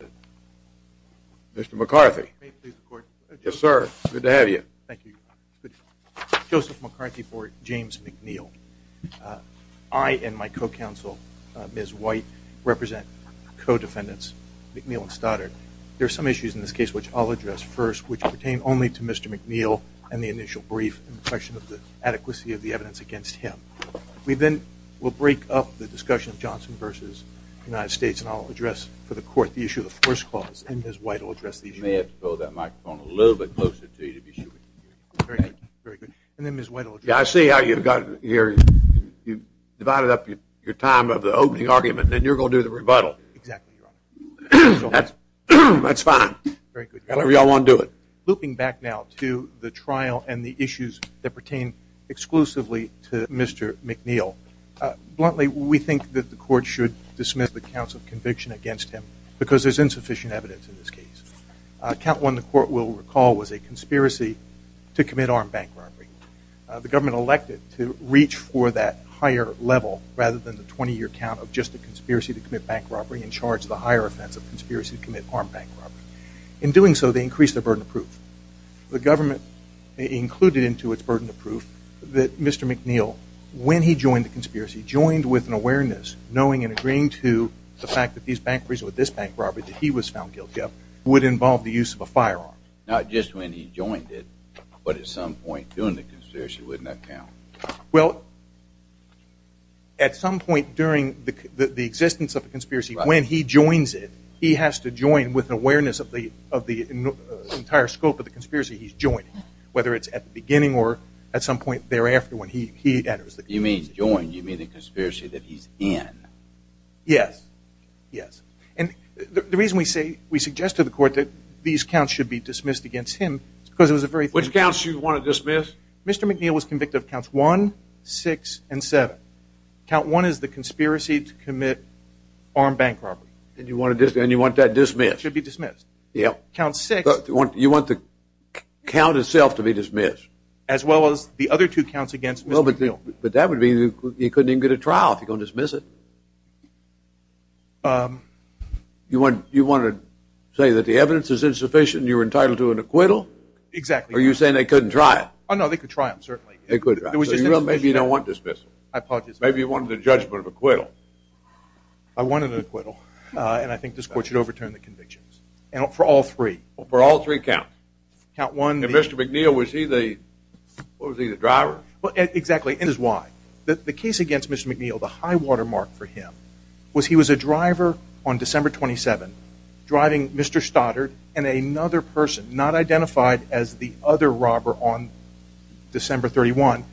I and my co-counsel Ms. White represent co-defendants McNeil and Stoddard. There are some issues in this case which I'll address first which pertain only to Mr. McNeil and the initial brief and the question of the adequacy of the evidence against him. We then will break up the discussion of Johnson v. the United States and I'll address for the court the issue of the first clause and Ms. White will address the issue of the second clause. Looping back now to the trial and the issues that pertain exclusively to Mr. McNeil, bluntly we think that the court should dismiss the counts of conviction against him because there's insufficient evidence in this case. Count 1 the court will recall was a conspiracy to commit armed bank robbery. The government elected to reach for that higher level rather than the 20 year count of just a conspiracy to commit bank robbery and charge the higher offense of conspiracy to commit armed bank robbery. In doing so they increased their burden of proof. The government included into its burden of proof that Mr. McNeil when he was found guilty of armed bank robbery would involve the use of a firearm. Not just when he joined it but at some point during the conspiracy wouldn't that count? At some point during the existence of a conspiracy when he joins it he has to join with awareness of the entire scope of the conspiracy he's joining whether it's at the beginning or at some point thereafter when he enters the conspiracy. You mean join, you mean the conspiracy that he's in? Yes, yes. And the reason we say, we suggest to the court that these counts should be dismissed against him is because it was a very- Which counts you want to dismiss? Mr. McNeil was convicted of counts 1, 6, and 7. Count 1 is the conspiracy to commit armed bank robbery. And you want that dismissed? Should be dismissed. Yeah. Count 6- You want the count itself to be dismissed? As well as the other two counts against Mr. McNeil. Well, but that would mean you couldn't even get a trial if you're going to dismiss it. You want to say that the evidence is insufficient and you're entitled to an acquittal? Exactly. Or you're saying they couldn't try it? Oh no, they could try him, certainly. They could try him. So maybe you don't want dismissal. I apologize. Maybe you wanted a judgment of acquittal. I wanted an acquittal and I think this court should overturn the convictions for all three. For all three counts? Mr. McNeil, was he the driver? Exactly. This is why. The case against Mr. McNeil, the high watermark for him, was he was a driver on December 27, driving Mr. Stoddard and another person, not identified as the other robber on December 31,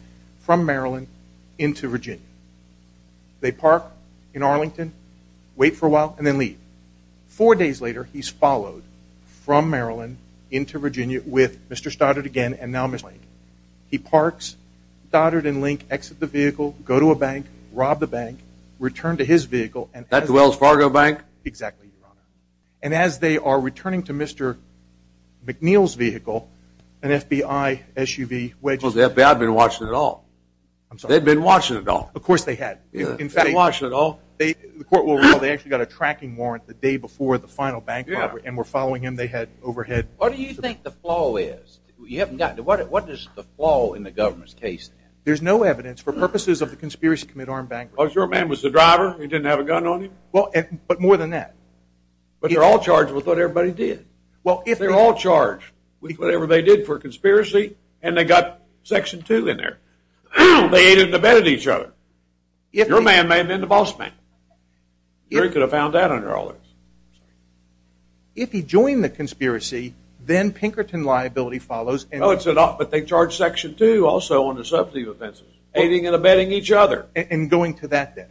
from Maryland into Virginia. They park in Arlington, wait for a while, and then leave. Four days later he's followed from Maryland into Virginia with Mr. Stoddard again and now Mr. McNeil. He parks, Stoddard and Link exit the vehicle, go to a bank, rob the bank, return to his vehicle and as they are returning to Mr. McNeil's vehicle, an FBI SUV wedges in front of him. Because the FBI had been watching it all. They'd been watching it all. Of course they had. In fact, the court will recall they actually got a tracking warrant the day before the final bank robbery and were following him. They had overhead. What do you think the flaw is? What is the flaw in the government's case? There's no evidence for purposes of the conspiracy to commit armed bank robberies. Well, if your man was the driver, he didn't have a gun on him? But more than that. But they're all charged with what everybody did. Well, if they're all charged with whatever they did for a conspiracy and they got Section 2 in there, they ain't even abetted each other. Your man may have been the boss man. He could have found out under all this. If he joined the conspiracy, then Pinkerton liability follows. No, it's not. But they charge Section 2 also on the substantive offenses. Aiding and abetting each other. And going to that then.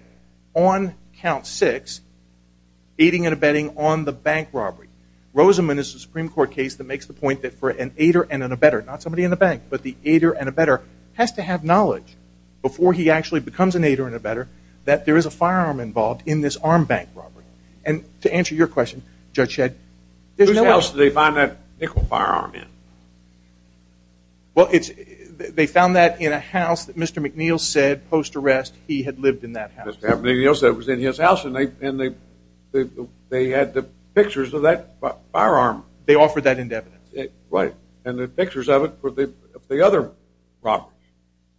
On count six, aiding and abetting on the bank robbery. Rosamond is a Supreme Court case that makes the point that for an aider and an abetter, not somebody in the bank, but the aider and abetter, has to have knowledge before he actually becomes an aider and abetter that there is a firearm involved in this armed bank robbery. And to answer your question, Judge Shedd, there's no evidence. Whose house did they find that nickel firearm in? Well, they found that in a house that Mr. McNeil said post-arrest he had lived in that house. Mr. McNeil said it was in his house and they had the pictures of that firearm. They offered that in evidence. Right. And the pictures of it were the other robberies.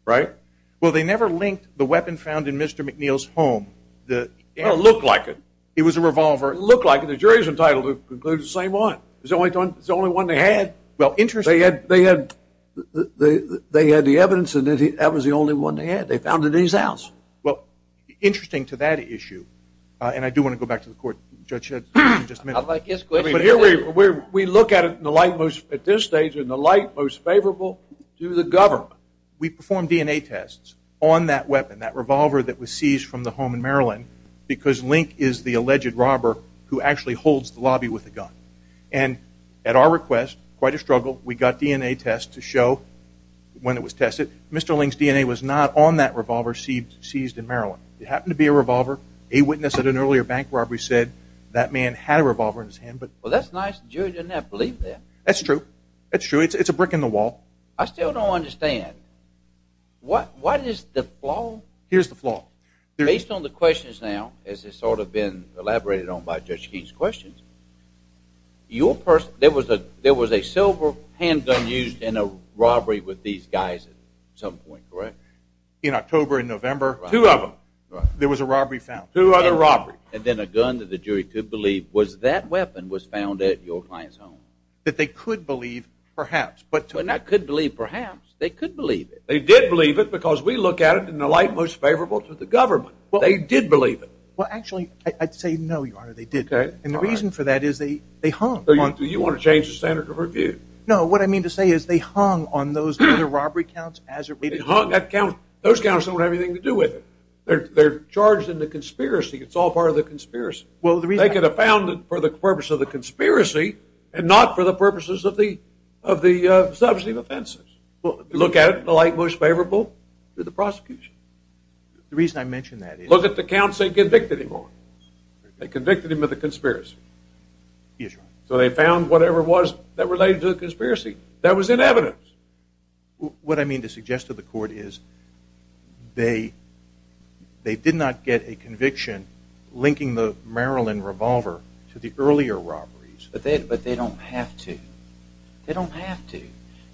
Right. Well, they never linked the weapon found in Mr. McNeil's home. It looked like it. It was a revolver. It looked like it. The jury's entitled to conclude the same one. It's the only one they had. Well, interesting. They had the evidence and that was the only one they had. They found it in his house. Well, interesting to that issue. And I do want to go back to the court, Judge Shedd, in just a minute. I'd like his question. But here we are. We look at it at this stage in the light most of the time. We performed DNA tests on that weapon, that revolver that was seized from the home in Maryland, because Link is the alleged robber who actually holds the lobby with a gun. And at our request, quite a struggle, we got DNA tests to show when it was tested. Mr. Link's DNA was not on that revolver seized in Maryland. It happened to be a revolver. A witness at an earlier bank robbery said that man had a revolver in his hand. Well, that's nice. The jury didn't have to believe that. That's true. That's true. It's a brick in the wall. I still don't understand. What is the flaw? Here's the flaw. Based on the questions now, as has sort of been elaborated on by Judge King's questions, there was a silver handgun used in a robbery with these guys at some point, correct? In October and November. Two of them. There was a robbery found. Two other robberies. And then a gun that the jury could believe was that weapon was found at your client's home. That they could believe, perhaps. But they could believe, perhaps. They could believe it. They did believe it because we look at it in the light most favorable to the government. They did believe it. Well, actually, I'd say no, Your Honor. They didn't. And the reason for that is they hung. Do you want to change the standard of review? No. What I mean to say is they hung on those other robbery counts as a reason. They hung that count. Those counts don't have anything to do with it. They're charged in the conspiracy. It's all part of the conspiracy. Well, the reason... They could have found it for the purpose of the conspiracy and not for the purposes of the substantive offenses. Look at it in the light most favorable to the prosecution. The reason I mention that is... Look at the counts they convicted him on. They convicted him of the conspiracy. Yes, Your Honor. So they found whatever it was that related to the conspiracy. That was in evidence. What I mean to suggest to the court is they did not get a conviction linking the Maryland revolver to the earlier robberies. But they don't have to. They don't have to.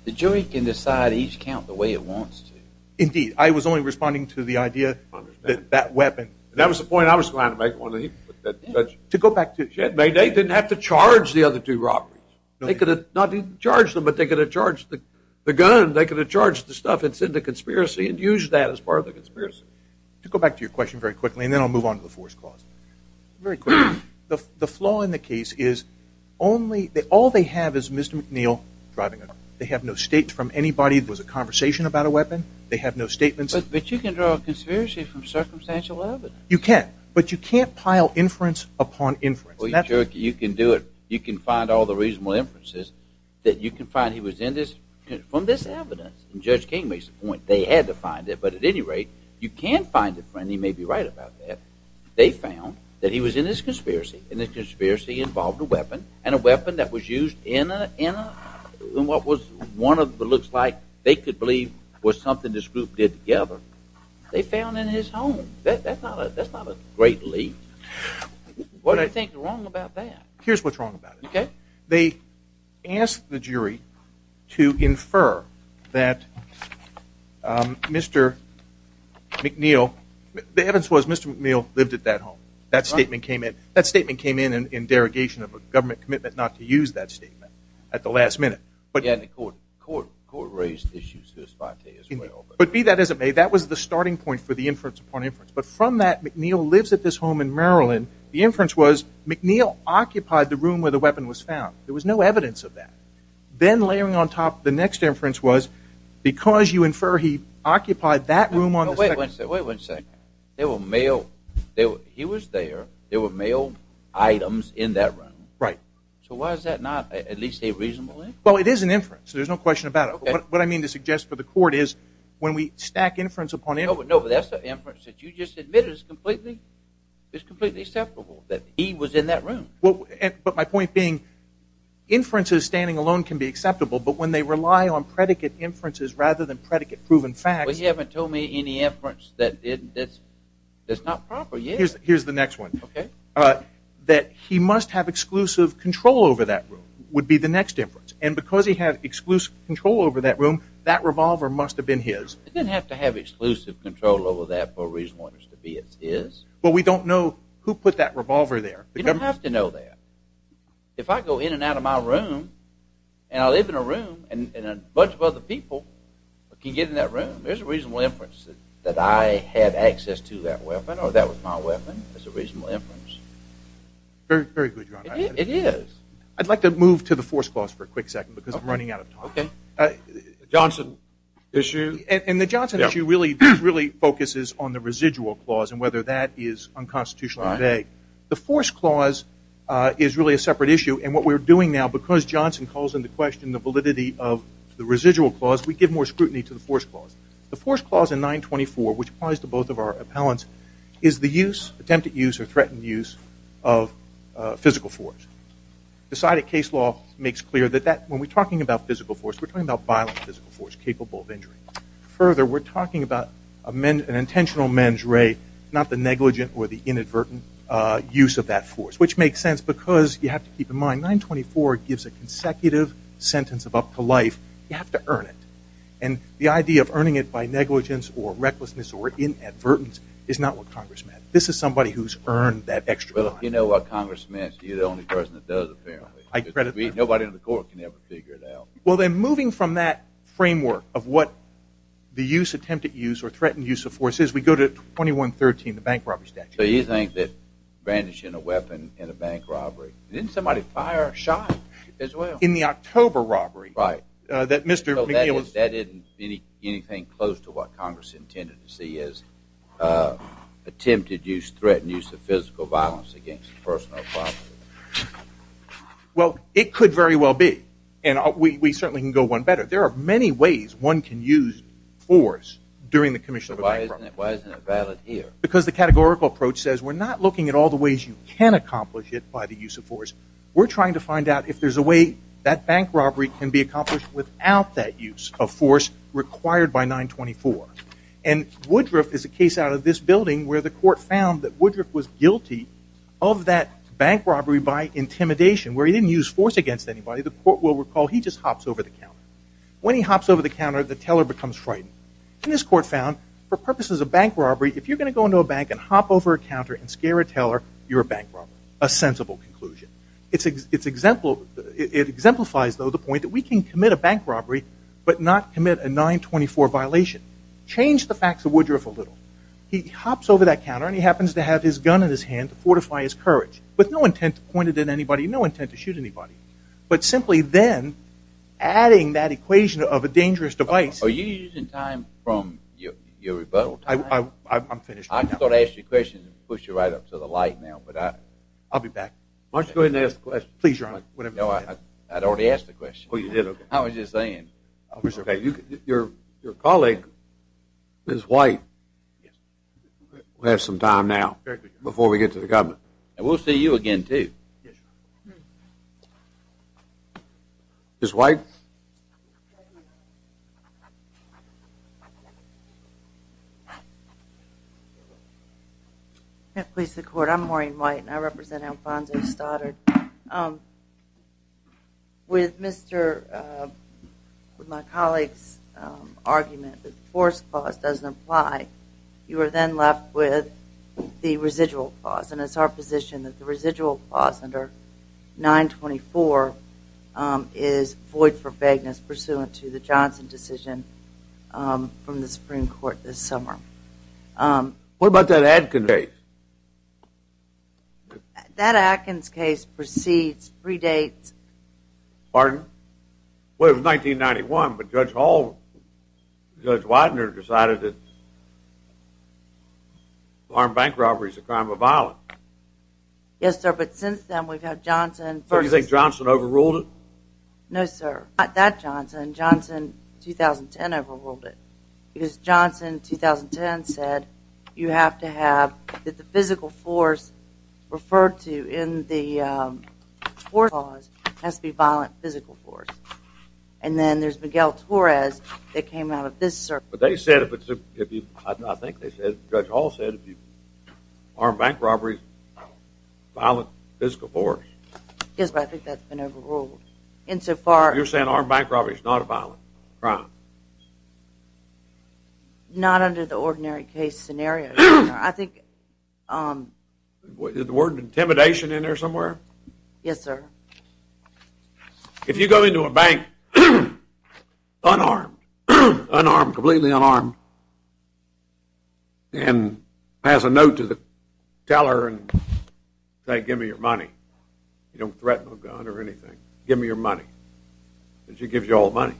The jury can decide each count the way it wants to. Indeed. I was only responding to the idea that that weapon... That was the point I was trying to make. To go back to... They didn't have to charge the other two robberies. They could have not only charged them, but they could have charged the gun. They could have charged the stuff that's in the conspiracy and used that as part of the conspiracy. To go back to your question very quickly, and then I'll move on to the fourth clause. Very quickly, the flaw in the case is only... All they have is Mr. McNeil driving a car. They have no state from anybody. There was a conversation about a weapon. They have no statements. But you can draw a conspiracy from circumstantial evidence. You can. But you can't pile inference upon inference. Well, you can do it. You can find all the reasonable inferences that you can find he was in this... From this evidence. And Judge King makes the point. They had to find it. But at any rate, you can find it, and he may be right about that. They found that he was in this conspiracy. And this conspiracy involved a weapon. And a weapon that was used in what was one of what looks like they could believe was something this group did together. They found in his home. That's not a great lead. What do you think is wrong about that? Here's what's wrong about it. Okay. They asked the jury to infer that Mr. McNeil... The evidence was Mr. McNeil lived at that home. That statement came in. That statement came in in derogation of a government commitment not to use that statement at the last minute. But... Yeah, and the court raised issues to this point as well. But be that as it may, that was the starting point for the inference upon inference. But from that, McNeil lives at this home in Maryland. The inference was McNeil occupied the room where the weapon was found. There was no evidence of that. Then layering on top the next inference was because you infer he occupied that room on the second... Wait one second. There were mail... He was there. There were mail items in that room. Right. So why is that not at least a reasonable inference? Well, it is an inference. There's no question about it. What I mean to suggest for the court is when we stack inference upon inference... No, but that's the inference that you just admitted is completely... It's completely acceptable that he was in that room. But my point being, inferences standing alone can be acceptable, but when they rely on predicate inferences rather than predicate proven facts... But you haven't told me any inference that's not proper yet. Here's the next one. That he must have exclusive control over that room would be the next inference. And because he had exclusive control over that room, that revolver must have been his. It didn't have to have exclusive control over that for a reason to be his. But we don't know who put that revolver there. You don't have to know that. If I go in and out of my room and I live in a room and a bunch of other people can get in that room, there's a reasonable inference that I had access to that weapon or that was my weapon. That's a reasonable inference. Very good, Your Honor. It is. I'd like to move to the force clause for a quick second because I'm running out of time. Johnson issue. And the Johnson issue really focuses on the residual clause and whether that is unconstitutional or vague. The force clause is really a separate issue. And what we're doing now, because Johnson calls into question the validity of the residual clause, we give more scrutiny to the force clause. The force clause in 924, which applies to both of our appellants, is the use, attempted use or threatened use, of physical force. Decided case law makes clear that when we're talking about physical force, we're talking about violent physical force capable of injury. Further, we're talking about an intentional mens re, not the negligent or the inadvertent use of that force, which makes sense because you have to keep in mind 924 gives a consecutive sentence of up to life. You have to earn it. And the idea of earning it by negligence or recklessness or inadvertence is not what Congress meant. This is somebody who's earned that extra time. Well, if you know what Congress meant, you're the only person that does, apparently. I credit that. Nobody in the court can ever figure it out. Well, then, moving from that framework of what the use, attempted use or threatened use of force is, we go to 2113, the bank robbery statute. So you think that brandishing a weapon in a bank robbery, didn't somebody fire a shot as well? In the October robbery. Right. That Mr. McGillis... That isn't anything close to what Congress intended to see as attempted use, threatened use of physical violence against a person or property. Well, it could very well be. And we certainly can go one better. There are many ways one can use force during the commission of a bank robbery. Why isn't it valid here? Because the categorical approach says, we're not looking at all the ways you can accomplish it by the use of force. We're trying to find out if there's a way that bank robbery can be accomplished without that use of force required by 924. And Woodruff is a case out of this building where the court found that Woodruff was guilty of that bank robbery by intimidation, where he didn't use force against anybody. The court will recall he just hops over the counter. When he hops over the counter, the teller becomes frightened. And this court found, for purposes of bank robbery, if you're going to go into a bank and hop over a counter and scare a teller, you're a bank robber, a sensible conclusion. It exemplifies, though, the point that we can commit a bank robbery, but not commit a 924 violation. Change the facts of Woodruff a little. He hops over that counter, and he happens to have his gun in his hand to fortify his courage, with no intent to point it at anybody, no intent to shoot anybody. But simply then adding that equation of a dangerous device... From your rebuttal time... I'm finished. I thought I asked you a question and pushed you right up to the light now, but I... I'll be back. Why don't you go ahead and ask the question? Please, Your Honor, whatever you want to ask. I'd already asked the question. Oh, you did? I was just saying. Your colleague, Ms. White, will have some time now before we get to the government. And we'll see you again, too. Ms. White? May it please the Court, I'm Maureen White, and I represent Alfonso Stoddard. With my colleague's argument that the force clause doesn't apply, you are then left with the residual clause. And it's our position that the residual clause under 924 is void for vagueness pursuant to the Johnson decision from the Supreme Court this summer. What about that Atkins case? That Atkins case precedes, predates... Pardon? Well, it was 1991, but Judge Hall, Judge Widener decided that armed bank robbery is a crime of violence. Yes, sir, but since then we've had Johnson... So you think Johnson overruled it? No, sir. Not that Johnson. Johnson, 2010, overruled it. Because Johnson, 2010, said you have to have, that the physical force referred to in the force clause has to be violent physical force. And then there's Miguel Torres that came out of this, sir. But they said if it's, if you, I think they said, Judge Hall said if you, armed bank robberies, violent physical force. Yes, but I think that's been overruled. And so far... You're saying armed bank robbery is not a violent crime? Not under the ordinary case scenario. I think... Is the word intimidation in there somewhere? Yes, sir. If you go into a bank unarmed, unarmed, completely unarmed, and pass a note to the teller and say, give me your money. You don't threaten a gun or anything. Give me your money. And she gives you all the money.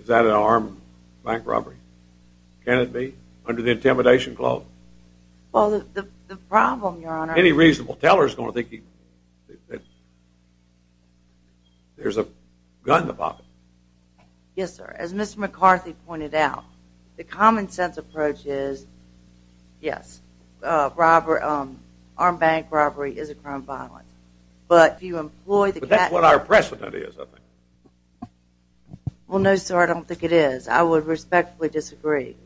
Is that an armed bank robbery? Can it be? Under the intimidation clause? Well, the problem, your honor... Any reasonable teller is going to think that there's a gun to pop it. Yes, sir. As Mr. McCarthy pointed out, the common sense approach is, yes, armed bank robbery is a crime of violence. But if you employ the... That's what our precedent is, I think. Well, no, sir. I don't think it is. I would respectfully disagree.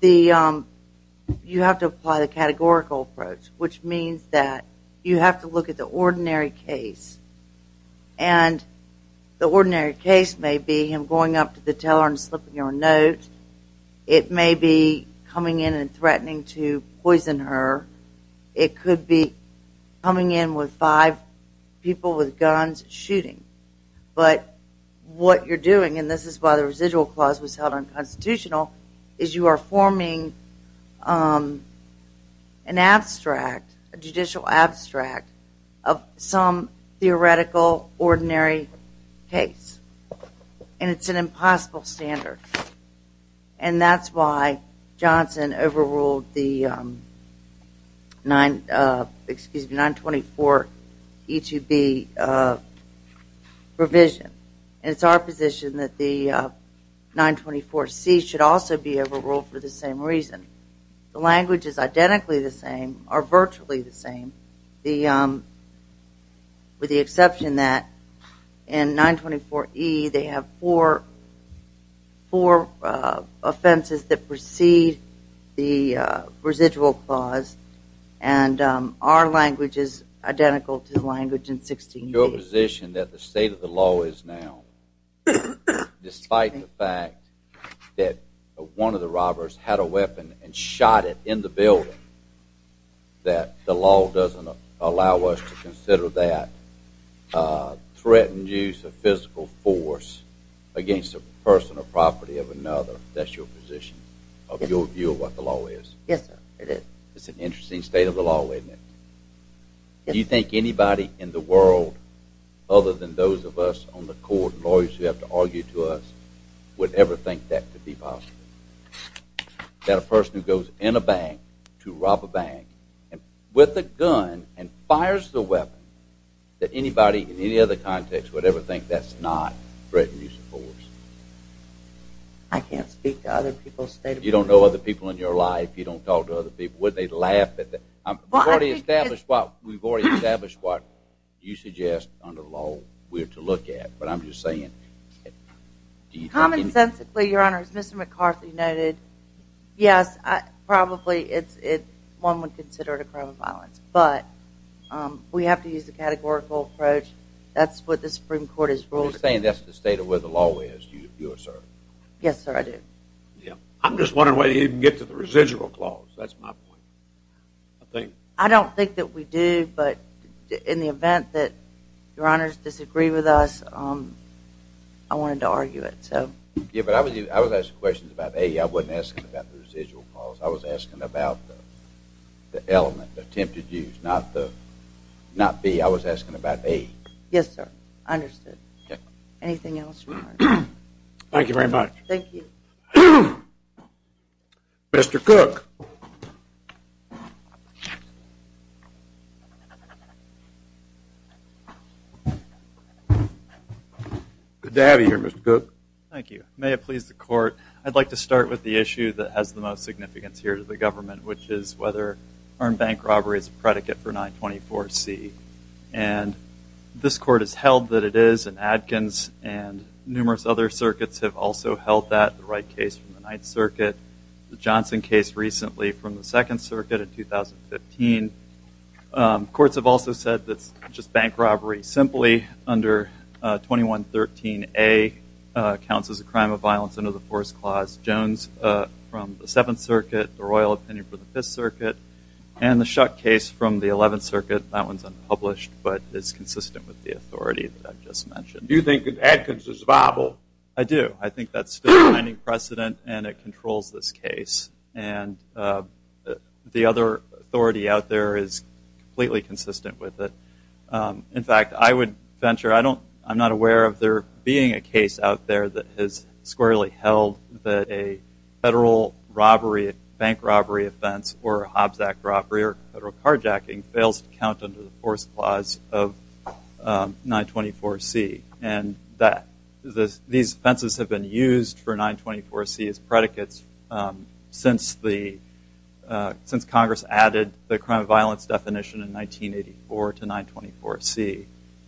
You have to apply the categorical approach, which means that you have to look at the ordinary case. And the ordinary case may be him going up to the teller and slipping your note. It may be coming in and threatening to poison her. It could be coming in with five people with guns shooting. But what you're doing, and this is why the residual clause was held unconstitutional, is you are forming an abstract, a judicial abstract of some theoretical ordinary case. And it's an impossible standard. And that's why Johnson overruled the 924E2B provision. And it's our position that the 924C should also be overruled for the same reason. The language is identically the same, or virtually the same, with the exception that in 924E, they have four offenses that precede the residual clause. And our language is identical to the language in 16E. Your position that the state of the law is now, despite the fact that one of the robbers had a weapon and shot it in the building, that the law doesn't allow us to consider that threatened use of physical force against a person or property of another, that's your position of your view of what the law is? Yes, sir, it is. It's an interesting state of the law, isn't it? Do you think anybody in the world, other than those of us on the court, lawyers who have to argue to us, would ever think that could be possible? That a person who goes in a bank to rob a bank with a gun and fires the weapon, that anybody in any other context would ever think that's not threatened use of force? I can't speak to other people's state of the law. You don't know other people in your life? You don't talk to other people? Would they laugh at that? We've already established what you suggest under the law we are to look at. But I'm just saying. Are you talking? Common sensically, your honor, as Mr. McCarthy noted, yes, probably one would consider it a crime of violence. But we have to use a categorical approach. That's what the Supreme Court has ruled. Are you saying that's the state of where the law is, you assert? Yes, sir, I do. I'm just wondering whether you can get to the residual clause. That's my point. I don't think that we do. In the event that your honors disagree with us, I wanted to argue it. I was asking questions about A. I wasn't asking about the residual clause. I was asking about the element, the attempted use, not B. I was asking about A. Yes, sir, understood. Anything else? Thank you very much. Thank you. Mr. Cook. Good to have you here, Mr. Cook. Thank you. May it please the court. I'd like to start with the issue that has the most significance here to the government, which is whether armed bank robbery is a predicate for 924C. And this court has held that it is. And Adkins and numerous other circuits have also held that, the Wright case from the 9th Circuit, the Johnson case recently from the 2nd Circuit in 2015. The courts have also said that it's just bank robbery simply under 2113A, counts as a crime of violence under the Force Clause. Jones from the 7th Circuit, the Royal Opinion for the 5th Circuit, and the Shuck case from the 11th Circuit. That one's unpublished, but it's consistent with the authority that I've just mentioned. Do you think that Adkins is viable? I do. I think that's still a binding precedent, and it controls this case. And the other authority out there is completely consistent with it. In fact, I would venture, I don't, I'm not aware of there being a case out there that has squarely held that a federal robbery, bank robbery offense, or a Hobbs Act robbery, or federal carjacking fails to count under the Force Clause of 924C. And that, these offenses have been used for 924C as predicates since the, since Congress added the crime of violence definition in 1984 to 924C.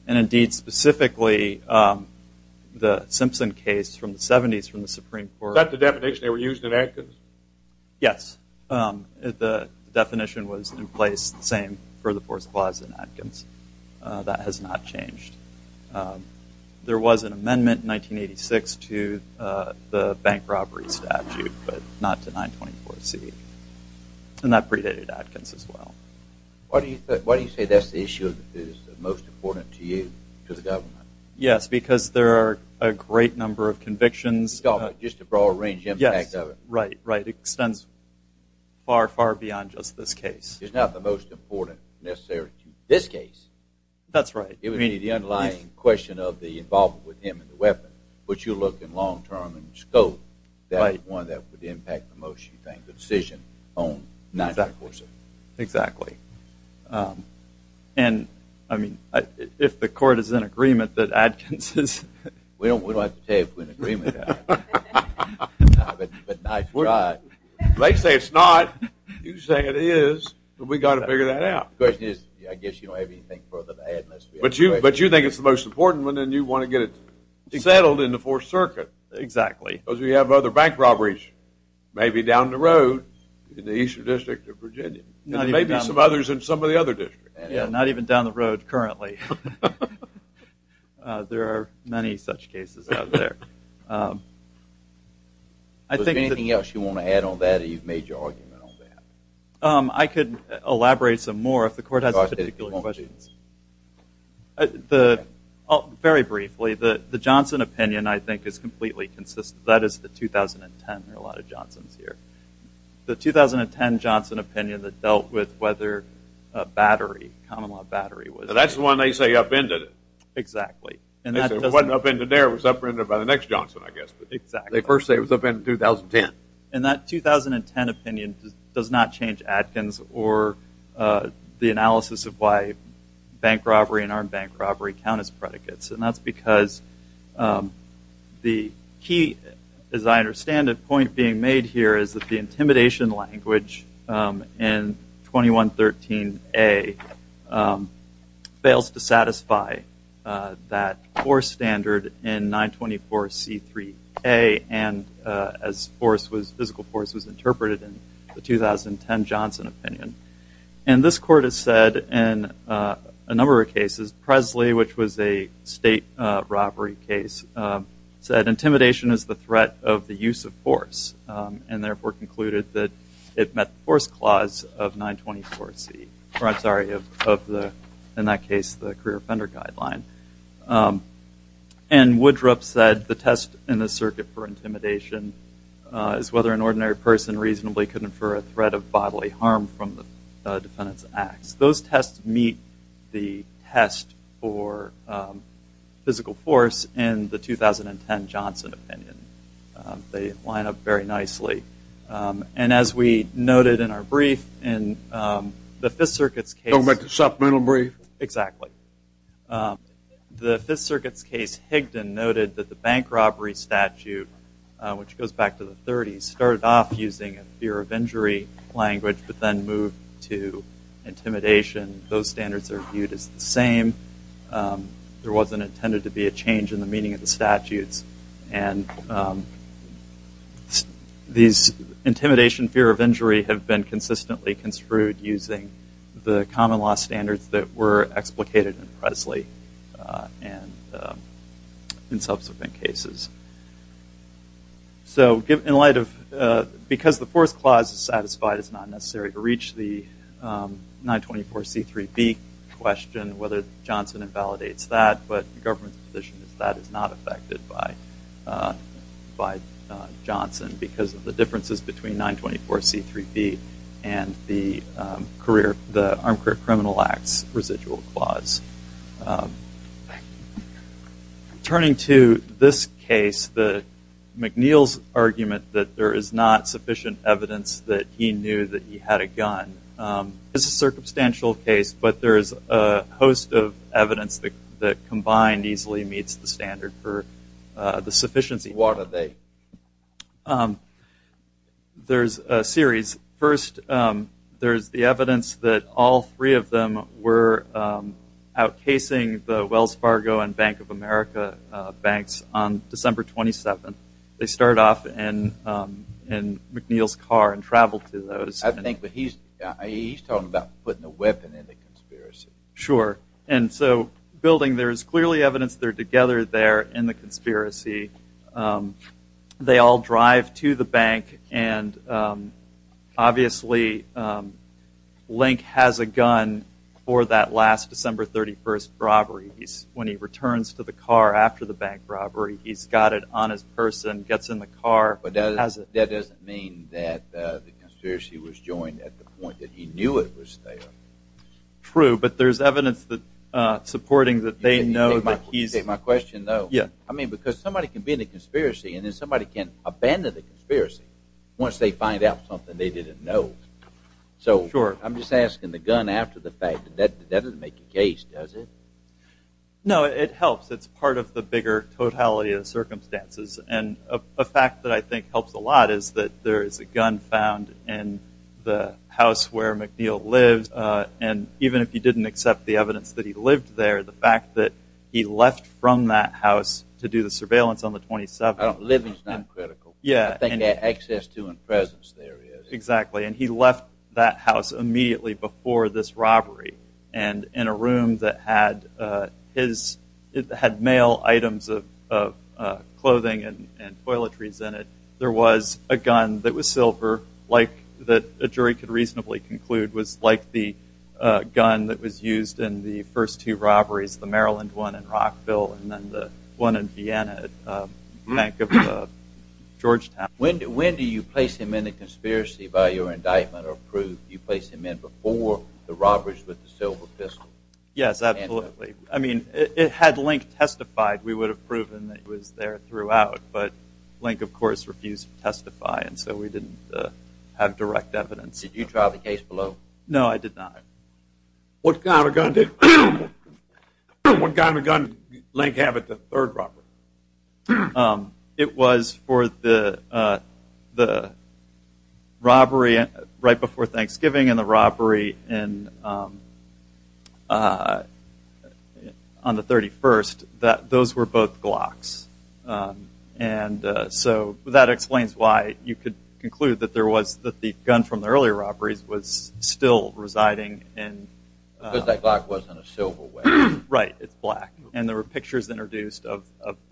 And indeed, specifically, the Simpson case from the 70s from the Supreme Court. Is that the definition they were using in Adkins? Yes. The definition was in place the same for the Force Clause in Adkins. That has not changed. There was an amendment in 1986 to the bank robbery statute, but not to 924C. And that predated Adkins as well. Why do you say that's the issue that is most important to you, to the government? Yes, because there are a great number of convictions. Just the broad range of impact of it. Right, right. It extends far, far beyond just this case. It's not the most important necessary to this case. That's right. I mean, the underlying question of the involvement with him and the weapon, which you look in long term and scope, that is one that would impact the most, you think, the decision on 924C. Exactly. And, I mean, if the court is in agreement that Adkins is... We don't have to tell you if we're in agreement. But 924C, they say it's not. You say it is. But we've got to figure that out. The question is, I guess you don't have anything further to add. But you think it's the most important one, and you want to get it settled in the Fourth Circuit. Exactly. Because we have other bank robberies, maybe down the road, in the Eastern District of Virginia, and maybe some others in some of the other districts. Yeah, not even down the road currently. There are many such cases out there. Is there anything else you want to add on that, or you've made your argument on that? I could elaborate some more if the court has particular questions. The... Very briefly, the Johnson opinion, I think, is completely consistent. That is the 2010. There are a lot of Johnsons here. The 2010 Johnson opinion that dealt with whether battery, common law battery was... That's the one they say upended it. Exactly. And that doesn't... It wasn't upended there. It was upended by the next Johnson, I guess. But they first say it was upended in 2010. And that 2010 opinion does not change Adkins or the analysis of why bank robbery and armed bank robbery count as predicates. And that's because the key, as I understand it, point being made here is that the intimidation language in 2113A fails to satisfy that force standard in 924C3A, and as force was... Physical force was interpreted in the 2010 Johnson opinion. And this court has said in a number of cases, Presley, which was a state robbery case, said intimidation is the threat of the use of force, and therefore concluded that it met the force clause of 924C. Or I'm sorry, of the... In that case, the career offender guideline. And Woodruff said the test in the circuit for intimidation is whether an ordinary person reasonably could infer a threat of bodily harm from the defendant's acts. Those tests meet the test for physical force in the 2010 Johnson opinion. They line up very nicely. And as we noted in our brief, in the Fifth Circuit's case... Don't make a supplemental brief. Exactly. The Fifth Circuit's case, Higdon noted that the bank robbery statute, which goes back to the 30s, started off using a fear of injury language, but then moved to intimidation. Those standards are viewed as the same. There wasn't intended to be a change in the meaning of the statutes. And these intimidation fear of injury have been consistently construed using the common law standards that were explicated in Presley and in subsequent cases. So, in light of... Because the force clause is satisfied, it's not necessary to reach the 924C3B question whether Johnson invalidates that. But the government's position is that is not affected by Johnson because of the differences between 924C3B and the Armed Career Criminal Acts residual clause. Turning to this case, McNeil's argument that there is not sufficient evidence that he knew that he had a gun is a circumstantial case, but there is a host of evidence that combined easily meets the standard for the sufficiency. What are they? There's a series. First, there's the evidence that all three of them were outcasing the Wells Fargo and Bank of America banks on December 27th. They started off in McNeil's car and traveled to those. I think he's talking about putting a weapon in the conspiracy. Sure. And so, building there is clearly evidence they're together there in the conspiracy. They all drive to the bank, and obviously, Link has a gun for that last December 31st robbery. When he returns to the car after the bank robbery, he's got it on his person, gets in the car. But that doesn't mean that the conspiracy was joined at the point that he knew it was there. True, but there's evidence supporting that they know that he's... My question, though, because somebody can be in a conspiracy and then somebody can abandon the conspiracy once they find out something they didn't know. Sure. I'm just asking, the gun after the fact, that doesn't make a case, does it? No, it helps. It's part of the bigger totality of the circumstances. And a fact that I think helps a lot is that there is a gun found in the house where McNeil lives. And even if you didn't accept the evidence that he lived there, the fact that he left from that house to do the surveillance on the 27th... Living's not critical. Yeah. I think access to and presence there is. Exactly. And he left that house immediately before this robbery. And in a room that had mail items of clothing and toiletries in it, there was a gun that was silver, that a jury could reasonably conclude was like the gun that was used in the first two robberies. The Maryland one in Rockville and then the one in Vienna at the bank of Georgetown. When do you place him in a conspiracy by your indictment or proof? Do you place him in before the robberies with the silver pistol? Yes, absolutely. I mean, had Link testified, we would have proven that he was there throughout. But Link, of course, refused to testify. And so we didn't have direct evidence. Did you trial the case below? No, I did not. What kind of gun did Link have at the third robbery? It was for the robbery right before Thanksgiving and the robbery on the 31st. Those were both Glocks. And so that explains why you could conclude that the gun from the earlier robberies was still residing in- Because that Glock wasn't a silver weapon. Right, it's black. And there were pictures introduced of-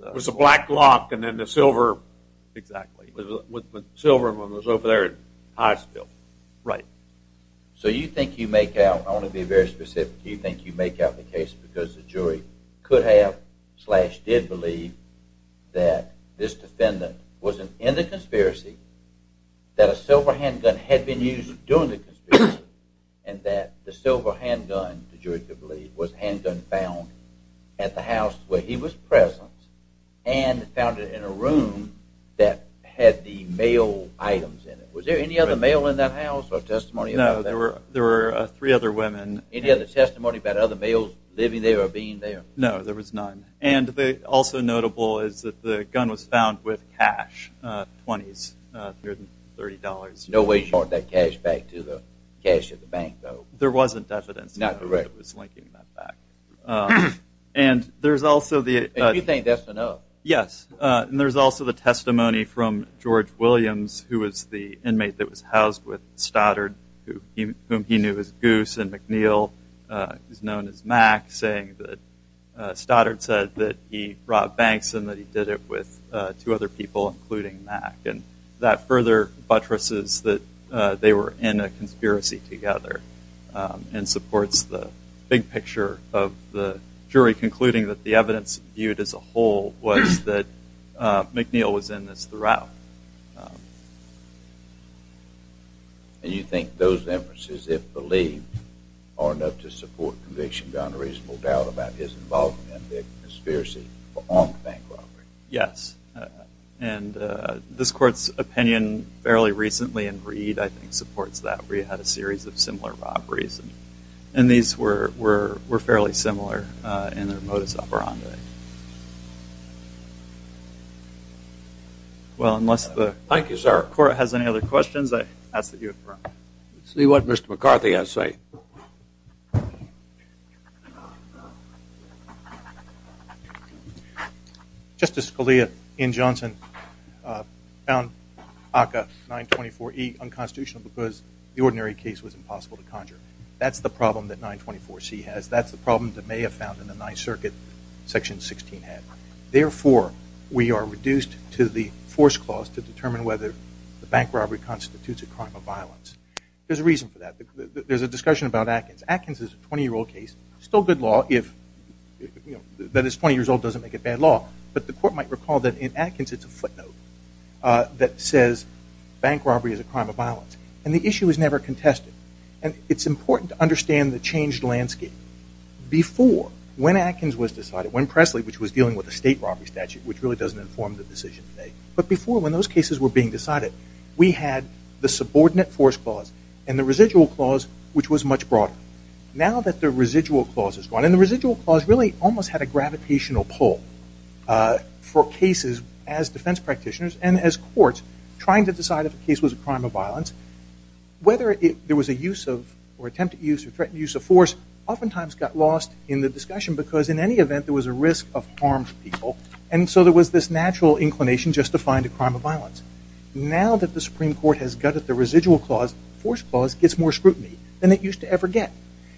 It was a black Glock and then the silver- Exactly. Silver was over there at Hivesville. Right. So you think you make out, I want to be very specific, do you think you make out the case because the jury could have slash did believe that this defendant wasn't in the conspiracy, that a silver handgun had been used during the conspiracy, and that the silver handgun, the jury could believe, was a handgun found at the house where he was present and found it in a room that had the mail items in it? Was there any other mail in that house or testimony? No, there were three other women. Any other testimony about other mails living there or being there? No, there was none. And also notable is that the gun was found with cash, 20s, 30 dollars. No way you brought that cash back to the cash at the bank, though. There wasn't evidence- Not correct. That was linking that back. And there's also the- And you think that's enough? Yes. And there's also the testimony from George Williams, who was the inmate that was housed with Stoddard, whom he knew as Goose, and McNeil, who's known as Mac, saying that Stoddard said that he robbed banks and that he did it with two other people, including Mac. And that further buttresses that they were in a conspiracy together and supports the big picture of the jury concluding that the evidence viewed as a whole was that McNeil was in this throughout. And you think those inferences, if believed, are enough to support conviction beyond a reasonable doubt about his involvement in the conspiracy for armed bank robbery? Yes. And this Court's opinion fairly recently in Reed, I think, supports that. Reed had a series of similar robberies, and these were fairly similar in their modus operandi. Well, unless the- Thank you, sir. Court has any other questions, I ask that you affirm. Let's see what Mr. McCarthy has to say. Justice Scalia in Johnson found ACCA 924E unconstitutional because the ordinary case was impossible to conjure. That's the problem that 924C has. That's the problem that may have found in the Ninth Circuit Section 16 had. Therefore, we are reduced to the force clause to determine whether the bank robbery constitutes a crime of violence. There's a reason for that. There's a discussion about Atkins. Atkins is a 20-year-old case. Still good law if- that it's 20 years old doesn't make it bad law. But the Court might recall that in Atkins, it's a footnote that says bank robbery is a crime of violence. And the issue was never contested. And it's important to understand the changed landscape. Before, when Atkins was decided, when Presley, which was dealing with a state robbery statute, which really doesn't inform the decision today. But before, when those cases were being decided, we had the subordinate force clause and the residual clause, which was much broader. Now that the residual clause is gone, and the residual clause really almost had a gravitational pull for cases as defense practitioners and as courts trying to decide if a case was a crime of violence. Whether there was a use of, or attempted use, or threatened use of force oftentimes got lost in the discussion. Because in any event, there was a risk of harm to people. And so there was this natural inclination just to find a crime of violence. Now that the Supreme Court has gutted the residual clause, the force clause gets more scrutiny than it used to ever get.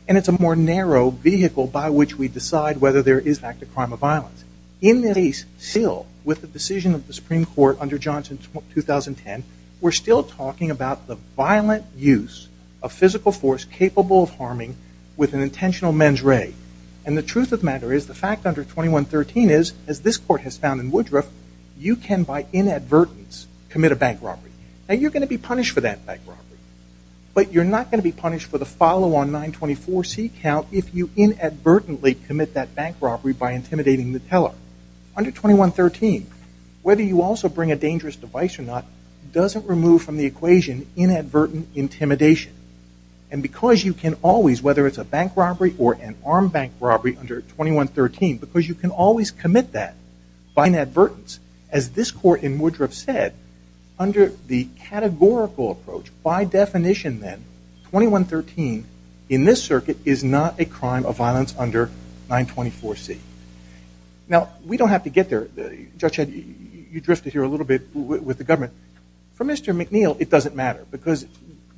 And it's a more narrow vehicle by which we decide whether there is, in fact, a crime of violence. In this case, still, with the decision of the Supreme Court under Johnson 2010, we're still talking about the violent use of physical force capable of harming with an intentional mens re. And the truth of the matter is, the fact under 2113 is, as this court has found in Woodruff, you can, by inadvertence, commit a bank robbery. Now you're going to be punished for that bank robbery. But you're not going to be punished for the follow-on 924C count if you inadvertently commit that bank robbery by intimidating the teller. Under 2113, whether you also bring a dangerous device or not doesn't remove from the equation inadvertent intimidation. And because you can always, whether it's a bank robbery or an armed bank robbery under 2113, because you can always commit that by inadvertence, as this court in Woodruff said, under the categorical approach, by definition then, 2113 in this circuit is not a crime of violence under 924C. Now we don't have to get there. Judge Ed, you drifted here a little bit with the government. For Mr. McNeil, it doesn't matter. Because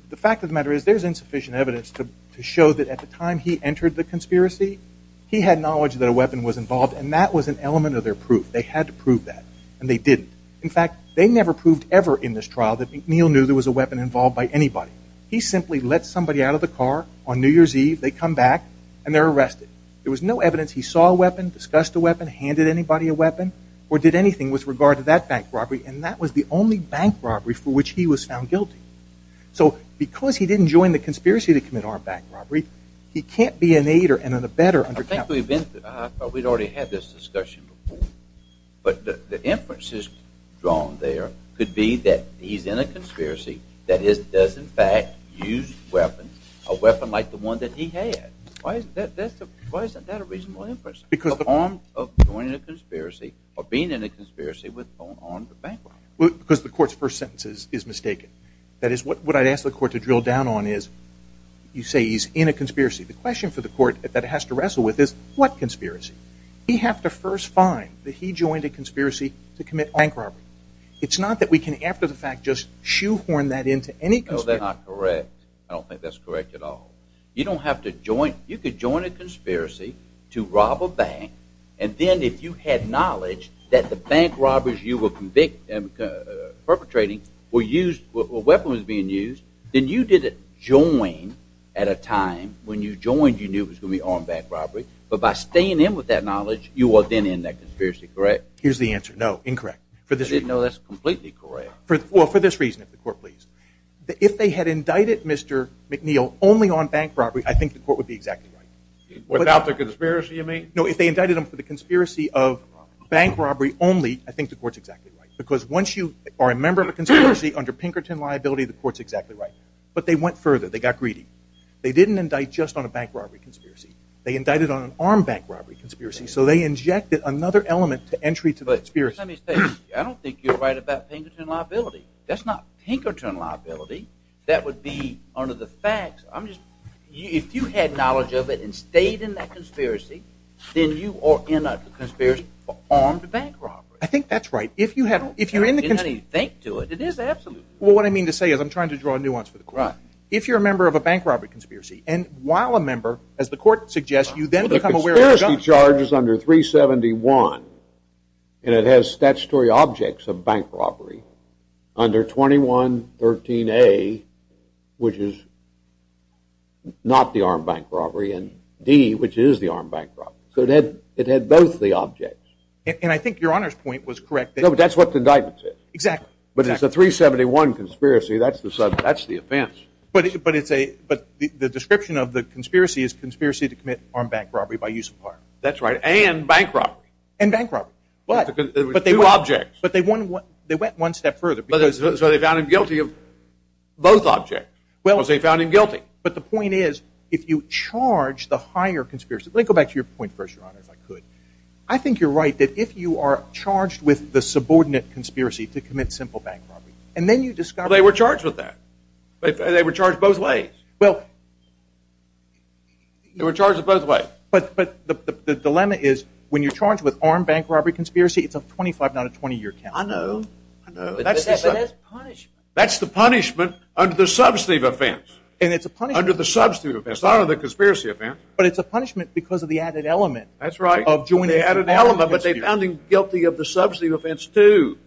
the fact of the matter is, there's insufficient evidence to show that at the time he entered the conspiracy, he had knowledge that a weapon was involved. And that was an element of their proof. They had to prove that. And they didn't. In fact, they never proved ever in this trial that McNeil knew there was a weapon involved by anybody. He simply let somebody out of the car on New Year's Eve. They come back. And they're arrested. There was no evidence he saw a weapon, discussed a weapon, handed anybody a weapon, or did anything with regard to that bank robbery. And that was the only bank robbery for which he was found guilty. So because he didn't join the conspiracy to commit armed bank robbery, he can't be an aider and an abettor under counterclaims. I think we've been, I thought we'd already had this discussion before. But the inferences drawn there could be that he's in a conspiracy that does, in fact, use weapons, a weapon like the one that he had. Why isn't that a reasonable inference? Because the arm of joining a conspiracy or being in a conspiracy with armed bank robbery. Because the court's first sentence is mistaken. That is, what I'd ask the court to drill down on is, you say he's in a conspiracy. The question for the court that it has to wrestle with is, what conspiracy? We have to first find that he joined a conspiracy to commit bank robbery. It's not that we can, after the fact, just shoehorn that into any conspiracy. No, they're not correct. I don't think that's correct at all. You don't have to join. You could join a conspiracy to rob a bank, and then if you had knowledge that the bank robbers you were perpetrating were weapons being used, then you didn't join at a time when you joined, you knew it was going to be armed bank robbery. But by staying in with that knowledge, you are then in that conspiracy, correct? Here's the answer. No, incorrect. I didn't know that's completely correct. Well, for this reason, if the court please. If they had indicted Mr. McNeil only on bank robbery, I think the court would be exactly right. Without the conspiracy, you mean? No, if they indicted him for the conspiracy of bank robbery only, I think the court's exactly right. Because once you are a member of a conspiracy under Pinkerton liability, the court's exactly right. But they went further. They got greedy. They didn't indict just on a bank robbery conspiracy. They indicted on an armed bank robbery conspiracy. So they injected another element to entry to the conspiracy. Let me say, I don't think you're right about Pinkerton liability. That's not Pinkerton liability. That would be under the facts. I'm just, if you had knowledge of it and stayed in that conspiracy, then you are in a conspiracy for armed bank robbery. I think that's right. If you have, if you're in the conspiracy. I don't think you need to think to it. It is absolutely right. Well, what I mean to say is, I'm trying to draw a nuance for the court. Right. If you're a member of a bank robbery conspiracy, and while a member, as the court suggests, you then become aware of the gun. under 371, and it has statutory objects of bank robbery under 2113A, which is not the armed bank robbery, and D, which is the armed bank robbery. So it had both the objects. And I think your Honor's point was correct. No, but that's what the indictment says. Exactly. But it's a 371 conspiracy. That's the offense. But it's a, but the description of the conspiracy is conspiracy to commit armed bank robbery by use of power. That's right. And bank robbery. And bank robbery. But there were two objects. But they went one step further. So they found him guilty of both objects. Well, they found him guilty. But the point is, if you charge the higher conspiracy, let me go back to your point first, Your Honor, if I could. I think you're right that if you are charged with the subordinate conspiracy to commit simple bank robbery, and then you discover. They were charged with that. They were charged both ways. Well. They were charged both ways. But the dilemma is, when you're charged with armed bank robbery conspiracy, it's a 25, not a 20 year count. I know, I know. But that's the punishment. That's the punishment under the substantive offense. And it's a punishment. Under the substantive offense. Not under the conspiracy offense. But it's a punishment because of the added element. That's right. Of joining the element. But they found him guilty of the substantive offense too.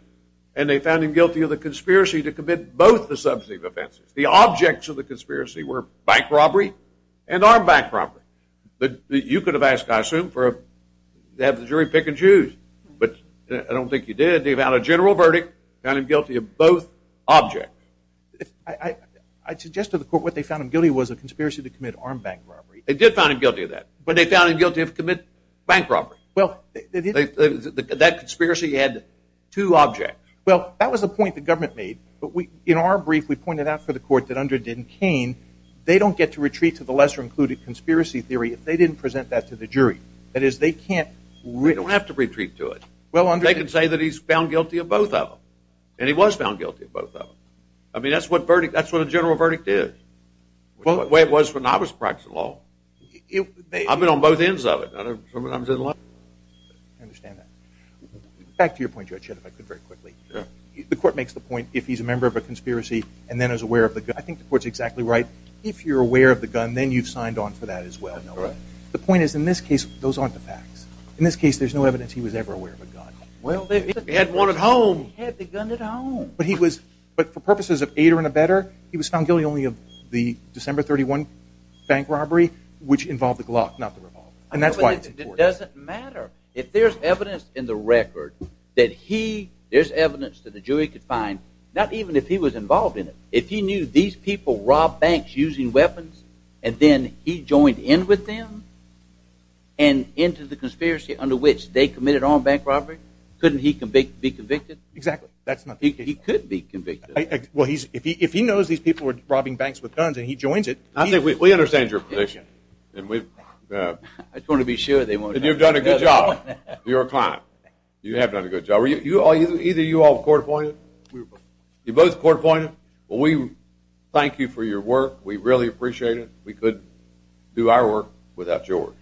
And they found him guilty of the conspiracy to commit both the substantive offenses. The objects of the conspiracy were bank robbery and armed bank robbery. You could have asked, I assume, to have the jury pick and choose. But I don't think you did. They found a general verdict. Found him guilty of both objects. I'd suggest to the court what they found him guilty was a conspiracy to commit armed bank robbery. They did find him guilty of that. But they found him guilty of commit bank robbery. Well. That conspiracy had two objects. Well, that was the point the government made. To the lesser included conspiracy theory, if they didn't present that to the jury. That is, they can't. We don't have to retreat to it. Well, they can say that he's found guilty of both of them. And he was found guilty of both of them. I mean, that's what a general verdict is. The way it was when I was practicing law. I've been on both ends of it. I understand that. Back to your point, Judge, if I could very quickly. The court makes the point, if he's a member of a conspiracy and then is aware of the gun. I think the court's exactly right. If you're aware of the gun, then you've signed on for that as well. The point is, in this case, those aren't the facts. In this case, there's no evidence he was ever aware of a gun. Well, they had one at home. He had the gun at home. But he was. But for purposes of aid or in a better, he was found guilty only of the December 31 bank robbery, which involved the Glock, not the revolver. And that's why it's important. It doesn't matter. If there's evidence in the record that he. There's evidence that the jury could find. Not even if he was involved in it. If he knew these people rob banks using weapons, and then he joined in with them. And into the conspiracy under which they committed armed bank robbery, couldn't he be convicted? Exactly. That's not. He could be convicted. Well, he's if he knows these people were robbing banks with guns and he joins it. I think we understand your position. And we want to be sure they want to. You've done a good job. You're a client. You have done a good job. Either you all court appointed. You both court appointed. Well, we thank you for your work. We really appreciate it. We could do our work without George.